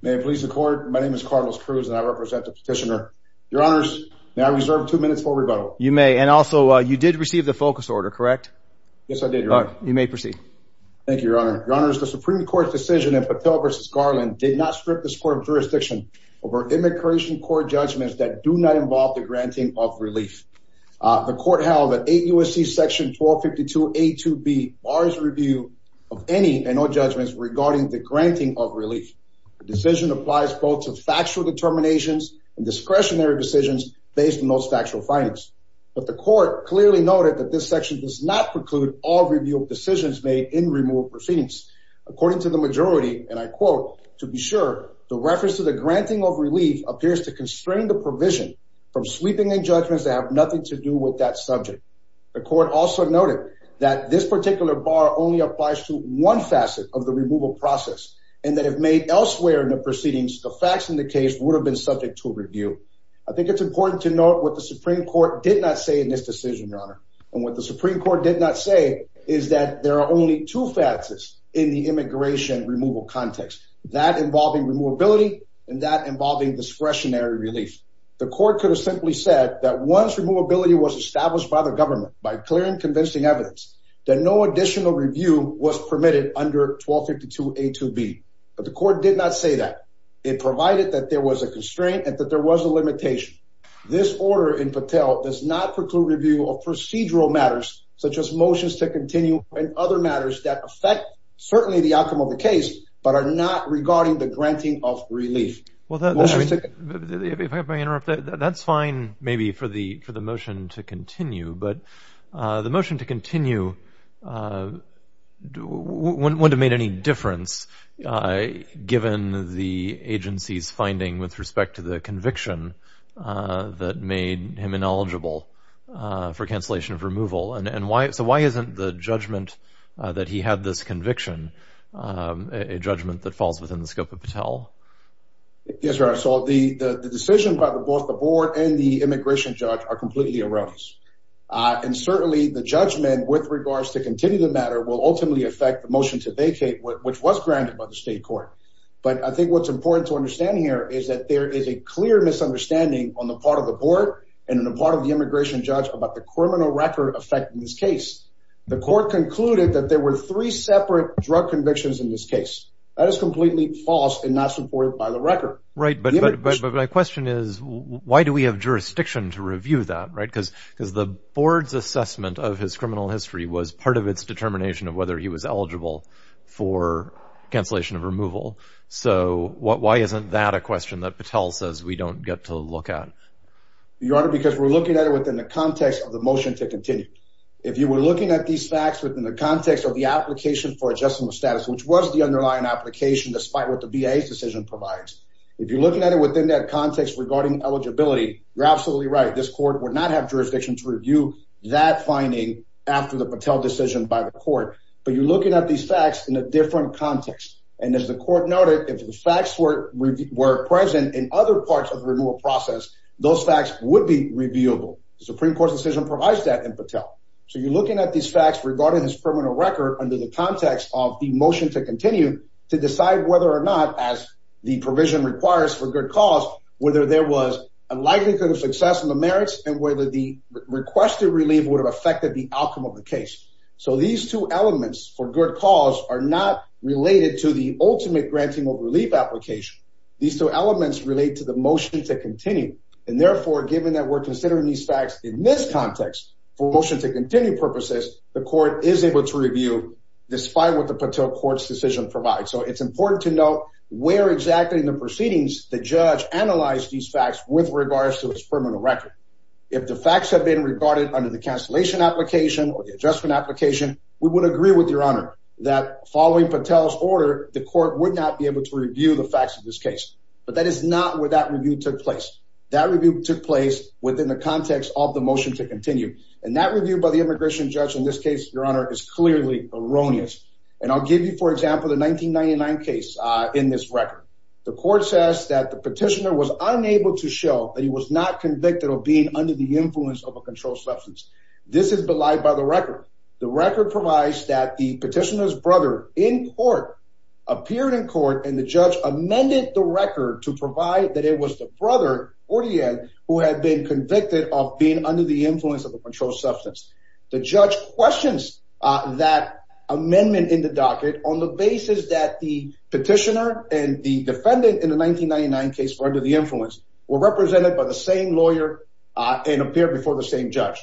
May it please the court, my name is Carlos Cruz and I represent the petitioner. Your honors, may I reserve two minutes for rebuttal? You may, and also you did receive the focus order, correct? Yes, I did, your honor. You may proceed. Thank you, your honor. Your honors, the Supreme Court's decision in Patel v. Garland did not strip this court of jurisdiction over immigration court judgments that do not involve the granting of relief. The court held that 8 U.S.C. § 1252a-2b bars review of any and all judgments regarding the granting of relief. The decision applies both to factual determinations and discretionary decisions based on those factual findings. But the court clearly noted that this section does not preclude all review of decisions made in removal proceedings. According to the majority, and I quote, to be sure, the reference to the granting of relief appears to constrain the provision from sweeping in judgments that have nothing to do with that subject. The court also noted that this particular bar only applies to one facet of the removal process and that if made elsewhere in the proceedings, the facts in the case would have been subject to review. I think it's important to note what the Supreme Court did not say in this decision, your honor. And what the Supreme Court did not say is that there are only two facets in the immigration removal context, that involving removability and that involving discretionary relief. The court could have simply said that once removability was established by the government, by clear and convincing evidence, that no additional review was permitted under 1252a-2b. But the court did not say that. It provided that there was a constraint and that there was a limitation. This order in Patel does not preclude review of procedural matters, such as motions to continue and other matters that affect certainly the outcome of the case, but are not regarding the granting of relief. Well, if I may interrupt, that's fine maybe for the motion to continue, but the motion to continue wouldn't have made any difference, given the agency's finding with respect to the conviction that made him ineligible for cancellation of removal. So why isn't the judgment that he had this conviction a judgment that falls within the scope of Patel? Yes, your honor. So the decision by both the board and the immigration judge are completely erroneous. And certainly the judgment with regards to continue the matter will ultimately affect the motion to vacate, which was granted by the state court. But I think what's important to understand here is that there is a clear misunderstanding on the part of the board and on the part of the immigration judge about the criminal record affecting this case. The court concluded that there were three separate drug convictions in this case. That is completely false and not supported by the record. Right. But my question is, why do we have jurisdiction to review that? Because the board's assessment of his criminal history was part of its determination of whether he was eligible for cancellation of removal. So why isn't that a question that Patel says we don't get to look at? Your honor, because we're looking at it within the context of the motion to continue. If you were looking at these facts within the context of the application for adjustment of status, which was the underlying application, despite what the VA's decision provides. If you're looking at it within that context regarding eligibility, you're absolutely right. This court would not have jurisdiction to review that finding after the Patel decision by the court. But you're looking at these facts in a different context. And as the court noted, if the facts were present in other parts of the renewal process, those facts would be reviewable. The Supreme Court's decision provides that in Patel. So you're looking at these facts regarding his criminal record under the context of the motion to continue to decide whether or not, as the provision requires for good cause, whether there was a likelihood of success in the merits and whether the requested relief would have affected the outcome of the case. So these two elements for good cause are not related to the ultimate granting of relief application. These two elements relate to the motion to continue. And therefore, given that we're considering these facts in this context for motion to continue purposes, the court is able to review despite what the Patel court's decision provides. So it's important to know where exactly in the proceedings the judge analyzed these facts with regards to his criminal record. If the facts have been regarded under the cancellation application or the adjustment application, we would agree with your honor that following Patel's order, the court would not be able to review the facts of this case. But that is not where that review took place. That review took place within the context of the motion to continue. And that review by the immigration judge in this case, your honor, is clearly erroneous. And I'll give you, for example, the 1999 case in this record. The court says that the petitioner was unable to show that he was not convicted of being under the influence of a controlled substance. This is belied by the record. The record provides that the petitioner's brother in court appeared in court, and the judge amended the record to provide that it was the brother who had been convicted of being under the influence of a controlled substance. The judge questions that amendment in the docket on the basis that the petitioner and the defendant in the 1999 case were under the influence, were represented by the same lawyer, and appeared before the same judge.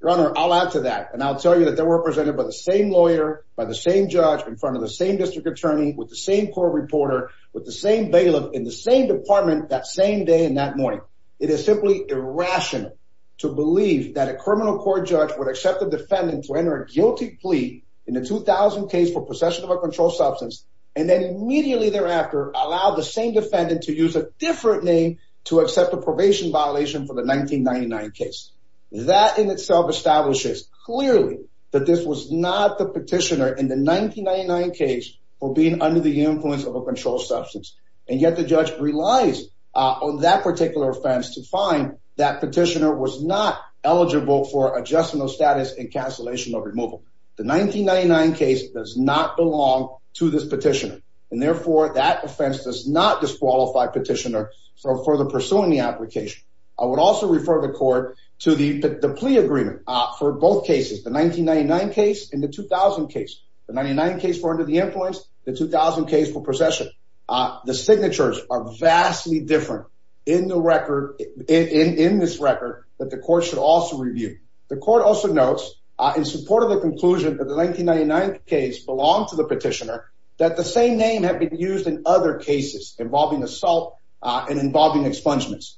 Your honor, I'll add to that. And I'll tell you that they were represented by the same lawyer, by the same judge, in front of the same district attorney, with the same court reporter, with the same bailiff, in the same department that same day and that morning. Your honor, it is simply irrational to believe that a criminal court judge would accept a defendant to enter a guilty plea in a 2000 case for possession of a controlled substance, and then immediately thereafter allow the same defendant to use a different name to accept a probation violation for the 1999 case. That in itself establishes clearly that this was not the petitioner in the 1999 case for being under the influence of a controlled substance. And yet the judge relies on that particular offense to find that petitioner was not eligible for adjustment of status and cancellation of removal. The 1999 case does not belong to this petitioner. And therefore, that offense does not disqualify petitioner from further pursuing the application. I would also refer the court to the plea agreement for both cases, the 1999 case and the 2000 case. The 1999 case for under the influence, the 2000 case for possession. The signatures are vastly different in the record, in this record, that the court should also review. The court also notes in support of the conclusion that the 1999 case belonged to the petitioner, that the same name had been used in other cases involving assault and involving expungements.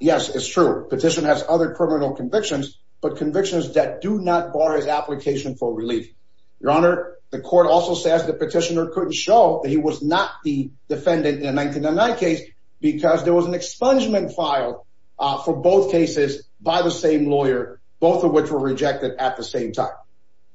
Yes, it's true. Petition has other criminal convictions, but convictions that do not bar his application for relief. Your Honor, the court also says the petitioner couldn't show that he was not the defendant in 1999 case because there was an expungement filed for both cases by the same lawyer, both of which were rejected at the same time.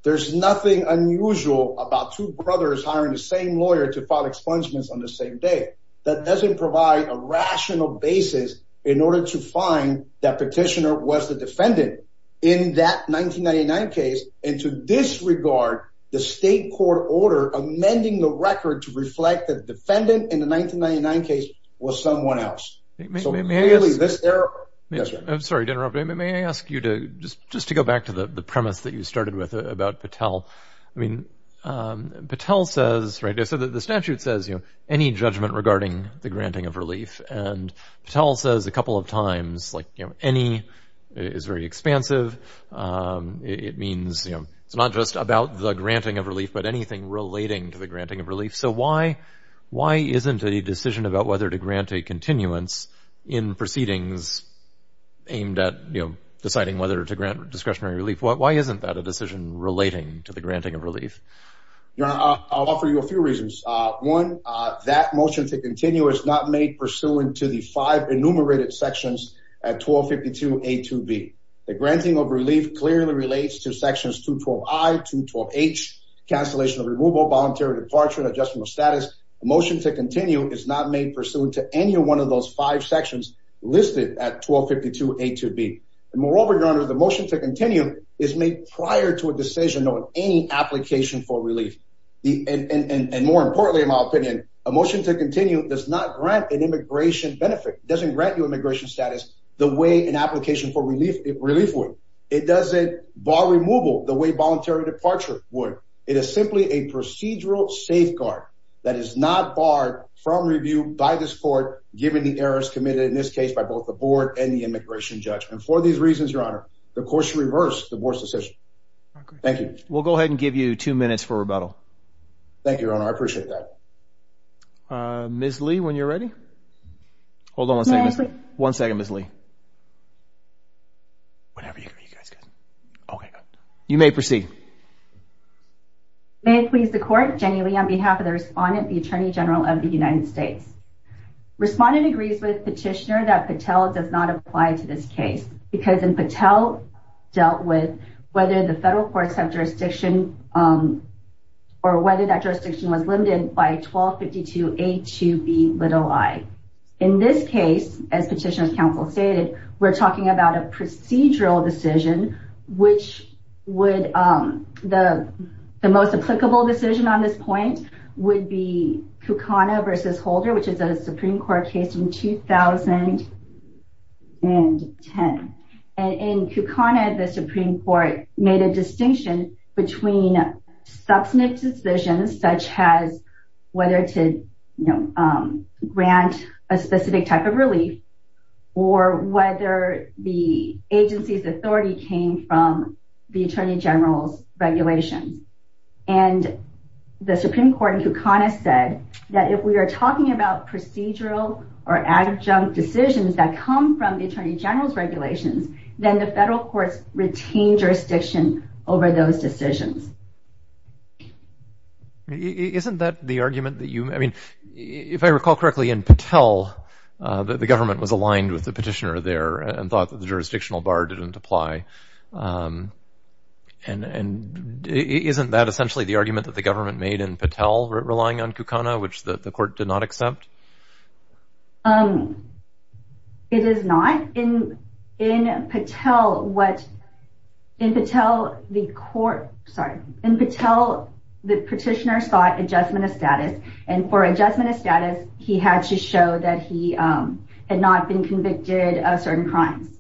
There's nothing unusual about two brothers hiring the same lawyer to file expungements on the same day. That doesn't provide a rational basis in order to find that petitioner was the defendant in that 1999 case. And to this regard, the state court order amending the record to reflect the defendant in the 1999 case was someone else. May I ask you to just to go back to the premise that you started with about Patel. I mean, Patel says, right, so the statute says, you know, any judgment regarding the granting of relief. And Patel says a couple of times, like any is very expansive. It means it's not just about the granting of relief, but anything relating to the granting of relief. So why why isn't a decision about whether to grant a continuance in proceedings aimed at deciding whether to grant discretionary relief? Why isn't that a decision relating to the granting of relief? I'll offer you a few reasons. One, that motion to continue is not made pursuant to the five enumerated sections at 1252 A to B. The granting of relief clearly relates to sections to 12 I to 12 H. Cancellation of removal, voluntary departure and adjustment of status. Motion to continue is not made pursuant to any one of those five sections listed at 1252 A to B. Moreover, your honor, the motion to continue is made prior to a decision on any application for relief. And more importantly, in my opinion, a motion to continue does not grant an immigration benefit, doesn't grant you immigration status the way an application for relief relief would. It doesn't bar removal the way voluntary departure would. It is simply a procedural safeguard that is not barred from review by this court, given the errors committed in this case by both the board and the immigration judge. And for these reasons, your honor, the court should reverse the board's decision. Thank you. We'll go ahead and give you two minutes for rebuttal. Thank you, your honor. I appreciate that. Ms. Lee, when you're ready. Hold on one second. One second, Ms. Lee. You may proceed. May it please the court, genuinely on behalf of the respondent, the attorney general of the United States. Respondent agrees with petitioner that Patel does not apply to this case. Because Patel dealt with whether the federal courts have jurisdiction or whether that jurisdiction was limited by 1252 A to B little I. In this case, as Petitioner's Counsel stated, we're talking about a procedural decision, which would, the most applicable decision on this point would be Kukana v. Holder, which is a Supreme Court case from 2010. And in Kukana, the Supreme Court made a distinction between substantive decisions, such as whether to grant a specific type of relief or whether the agency's authority came from the attorney general's regulation. And the Supreme Court in Kukana said that if we are talking about procedural or adjunct decisions that come from the attorney general's regulations, then the federal courts retain jurisdiction over those decisions. Isn't that the argument that you, I mean, if I recall correctly in Patel, the government was aligned with the petitioner there and thought that the jurisdictional bar didn't apply. And isn't that essentially the argument that the government made in Patel, relying on Kukana, which the court did not accept? It is not. In Patel, the petitioner sought adjustment of status, and for adjustment of status, he had to show that he had not been convicted of certain crimes.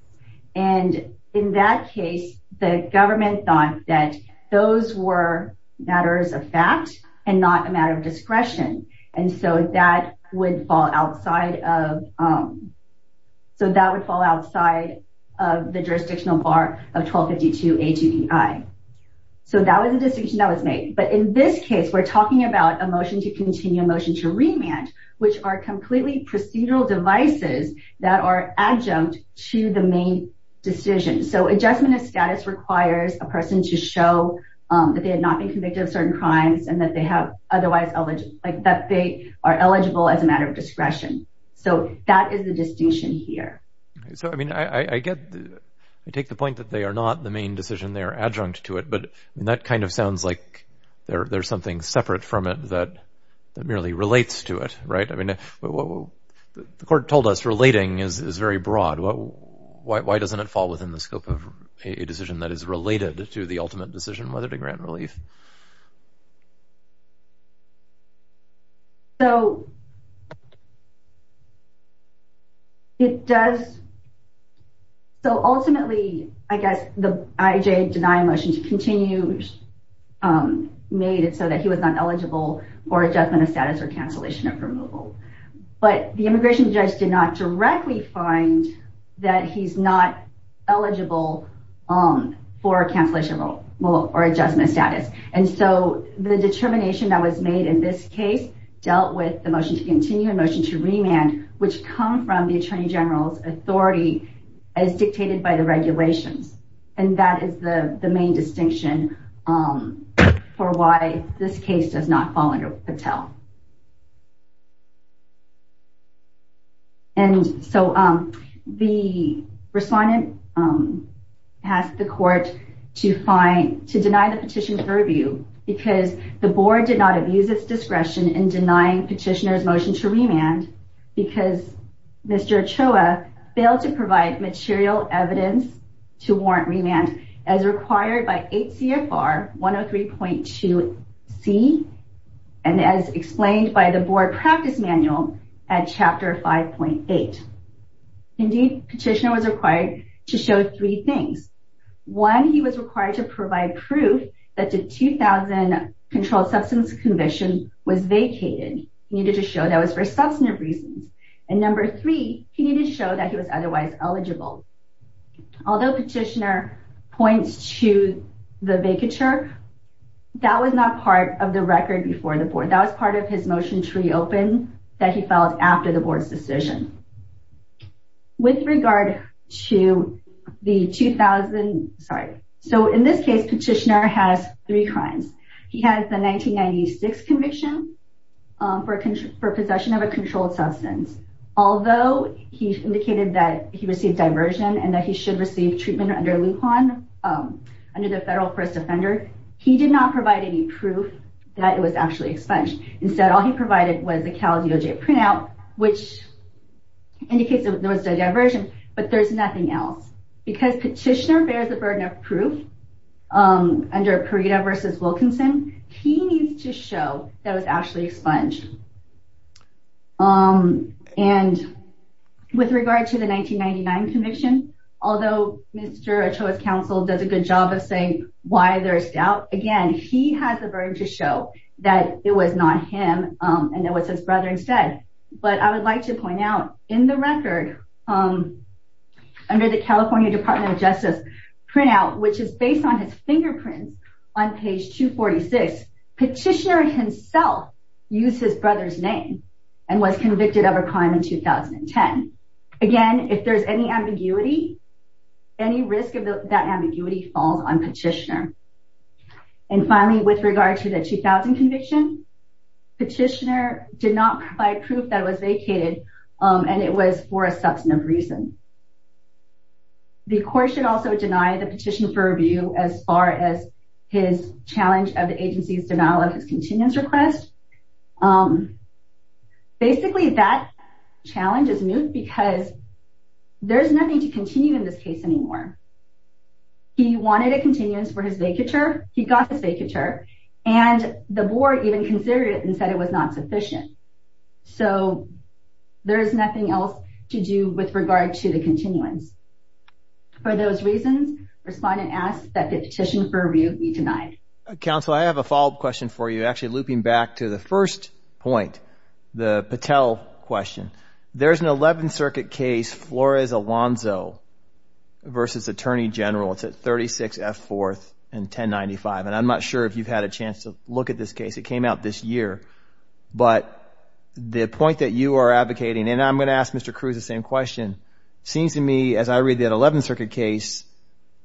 And in that case, the government thought that those were matters of fact and not a matter of discretion. And so that would fall outside of, so that would fall outside of the jurisdictional bar of 1252 A2EI. So that was the decision that was made. But in this case, we're talking about a motion to continue, a motion to remand, which are completely procedural devices that are adjunct to the main decision. So adjustment of status requires a person to show that they had not been convicted of certain crimes and that they are eligible as a matter of discretion. So that is the distinction here. So, I mean, I get, I take the point that they are not the main decision, they are adjunct to it, but that kind of sounds like there's something separate from it that merely relates to it, right? I mean, the court told us relating is very broad. Why doesn't it fall within the scope of a decision that is related to the ultimate decision, whether to grant relief? So, it does, so ultimately, I guess, the IJ denying motion to continue made it so that he was not eligible for adjustment of status or cancellation of removal. But the immigration judge did not directly find that he's not eligible for cancellation or adjustment of status. And so the determination that was made in this case dealt with the motion to continue and motion to remand, which come from the Attorney General's authority as dictated by the regulations. And that is the main distinction for why this case does not fall under Patel. And so the respondent asked the court to deny the petition for review because the board did not abuse its discretion in denying petitioner's motion to remand because Mr. Ochoa failed to provide material evidence to warrant remand as required by 8 CFR 103.2C. And as explained by the board practice manual at Chapter 5.8. Indeed, petitioner was required to show three things. One, he was required to provide proof that the 2000 Controlled Substance Commission was vacated. He needed to show that was for substantive reasons. And number three, he needed to show that he was otherwise eligible. Although petitioner points to the vacature, that was not part of the record before the board. That was part of his motion to reopen that he filed after the board's decision. With regard to the 2000, sorry, so in this case, petitioner has three crimes. He has the 1996 conviction for possession of a controlled substance. Although he indicated that he received diversion and that he should receive treatment under Lujan, under the Federal First Offender, he did not provide any proof that it was actually expunged. Instead, all he provided was the Cal DOJ printout, which indicates that there was a diversion, but there's nothing else. Because petitioner bears the burden of proof under Parita v. Wilkinson, he needs to show that it was actually expunged. And with regard to the 1999 conviction, although Mr. Ochoa's counsel does a good job of saying why there's doubt, again, he has the burden to show that it was not him and it was his brother instead. But I would like to point out, in the record, under the California Department of Justice printout, which is based on his fingerprints on page 246, petitioner himself used his brother's name and was convicted of a crime in 2010. Again, if there's any ambiguity, any risk of that ambiguity falls on petitioner. And finally, with regard to the 2000 conviction, petitioner did not provide proof that it was vacated and it was for a substantive reason. The court should also deny the petition for review as far as his challenge of the agency's denial of his continuance request. Basically, that challenge is moot because there's nothing to continue in this case anymore. He wanted a continuance for his vacature, he got his vacature, and the board even considered it and said it was not sufficient. So, there is nothing else to do with regard to the continuance. For those reasons, respondent asks that the petition for review be denied. Counsel, I have a follow-up question for you, actually looping back to the first point, the Patel question. There's an 11th Circuit case, Flores-Alonzo v. Attorney General. It's at 36 F. 4th and 1095. And I'm not sure if you've had a chance to look at this case. It came out this year. But the point that you are advocating, and I'm going to ask Mr. Cruz the same question, seems to me, as I read the 11th Circuit case,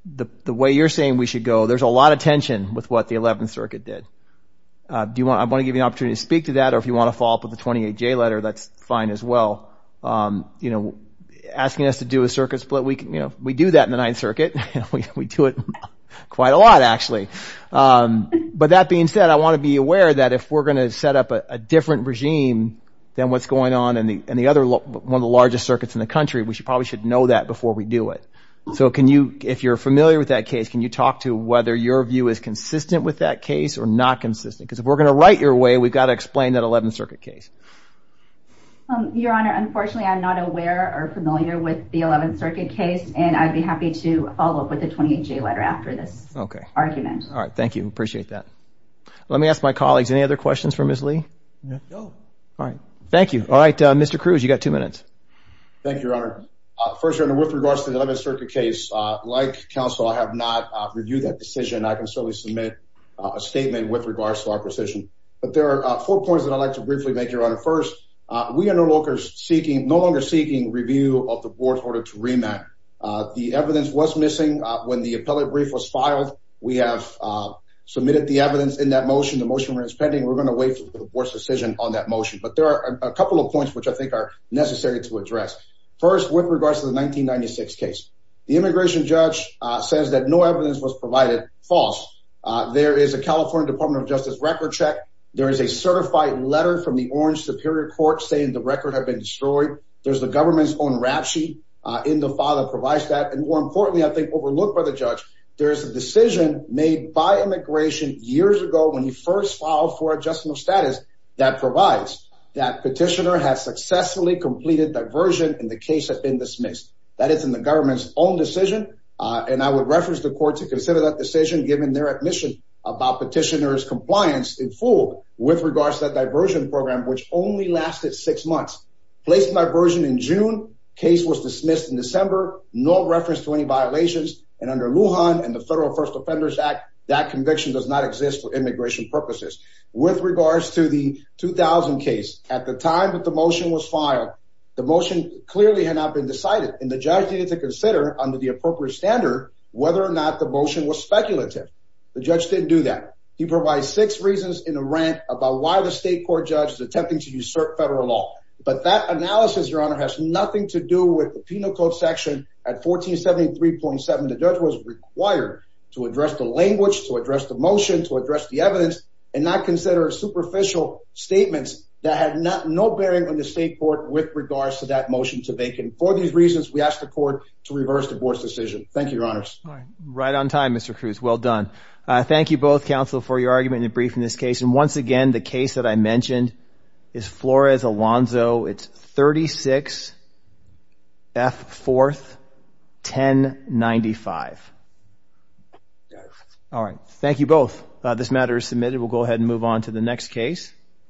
the way you're saying we should go, there's a lot of tension with what the 11th Circuit did. I want to give you an opportunity to speak to that, or if you want to follow up with the 28J letter, that's fine as well. Asking us to do a circuit split, we do that in the 9th Circuit. We do it quite a lot, actually. But that being said, I want to be aware that if we're going to set up a different regime than what's going on in one of the largest circuits in the country, we probably should know that before we do it. So if you're familiar with that case, can you talk to whether your view is consistent with that case or not consistent? Because if we're going to write your way, we've got to explain that 11th Circuit case. Your Honor, unfortunately, I'm not aware or familiar with the 11th Circuit case, and I'd be happy to follow up with the 28J letter after this argument. Okay. All right. Thank you. I appreciate that. Let me ask my colleagues, any other questions for Ms. Lee? No. All right. Thank you. All right, Mr. Cruz, you've got two minutes. Thank you, Your Honor. First, Your Honor, with regards to the 11th Circuit case, like counsel, I have not reviewed that decision. I can certainly submit a statement with regards to our position. But there are four points that I'd like to briefly make, Your Honor. First, we are no longer seeking review of the board's order to remand. The evidence was missing when the appellate brief was filed. We have submitted the evidence in that motion. The motion remains pending. We're going to wait for the board's decision on that motion. But there are a couple of points which I think are necessary to address. First, with regards to the 1996 case, the immigration judge says that no evidence was provided. False. There is a California Department of Justice record check. There is a certified letter from the Orange Superior Court saying the record had been destroyed. There's the government's own rap sheet in the file that provides that. And more importantly, I think, overlooked by the judge, there is a decision made by immigration years ago when he first filed for adjustment of status that provides that petitioner has successfully completed diversion and the case has been dismissed. That is in the government's own decision. And I would reference the court to consider that decision given their admission about petitioner's compliance in full with regards to that diversion program, which only lasted six months. Placed in diversion in June. Case was dismissed in December. No reference to any violations. And under Lujan and the Federal First Offenders Act, that conviction does not exist for immigration purposes. With regards to the 2000 case, at the time that the motion was filed, the motion clearly had not been decided. And the judge needed to consider under the appropriate standard whether or not the motion was speculative. The judge didn't do that. He provides six reasons in a rant about why the state court judge is attempting to usurp federal law. But that analysis, Your Honor, has nothing to do with the penal code section at 1473.7. The judge was required to address the language, to address the motion, to address the evidence, and not consider superficial statements that had no bearing on the state court with regards to that motion to vacant. For these reasons, we ask the court to reverse the board's decision. Thank you, Your Honors. Right on time, Mr. Cruz. Well done. Thank you both, counsel, for your argument in the briefing of this case. And once again, the case that I mentioned is Flores-Alonzo. It's 36F4-1095. All right. Thank you both. This matter is submitted. We'll go ahead and move on to the next case.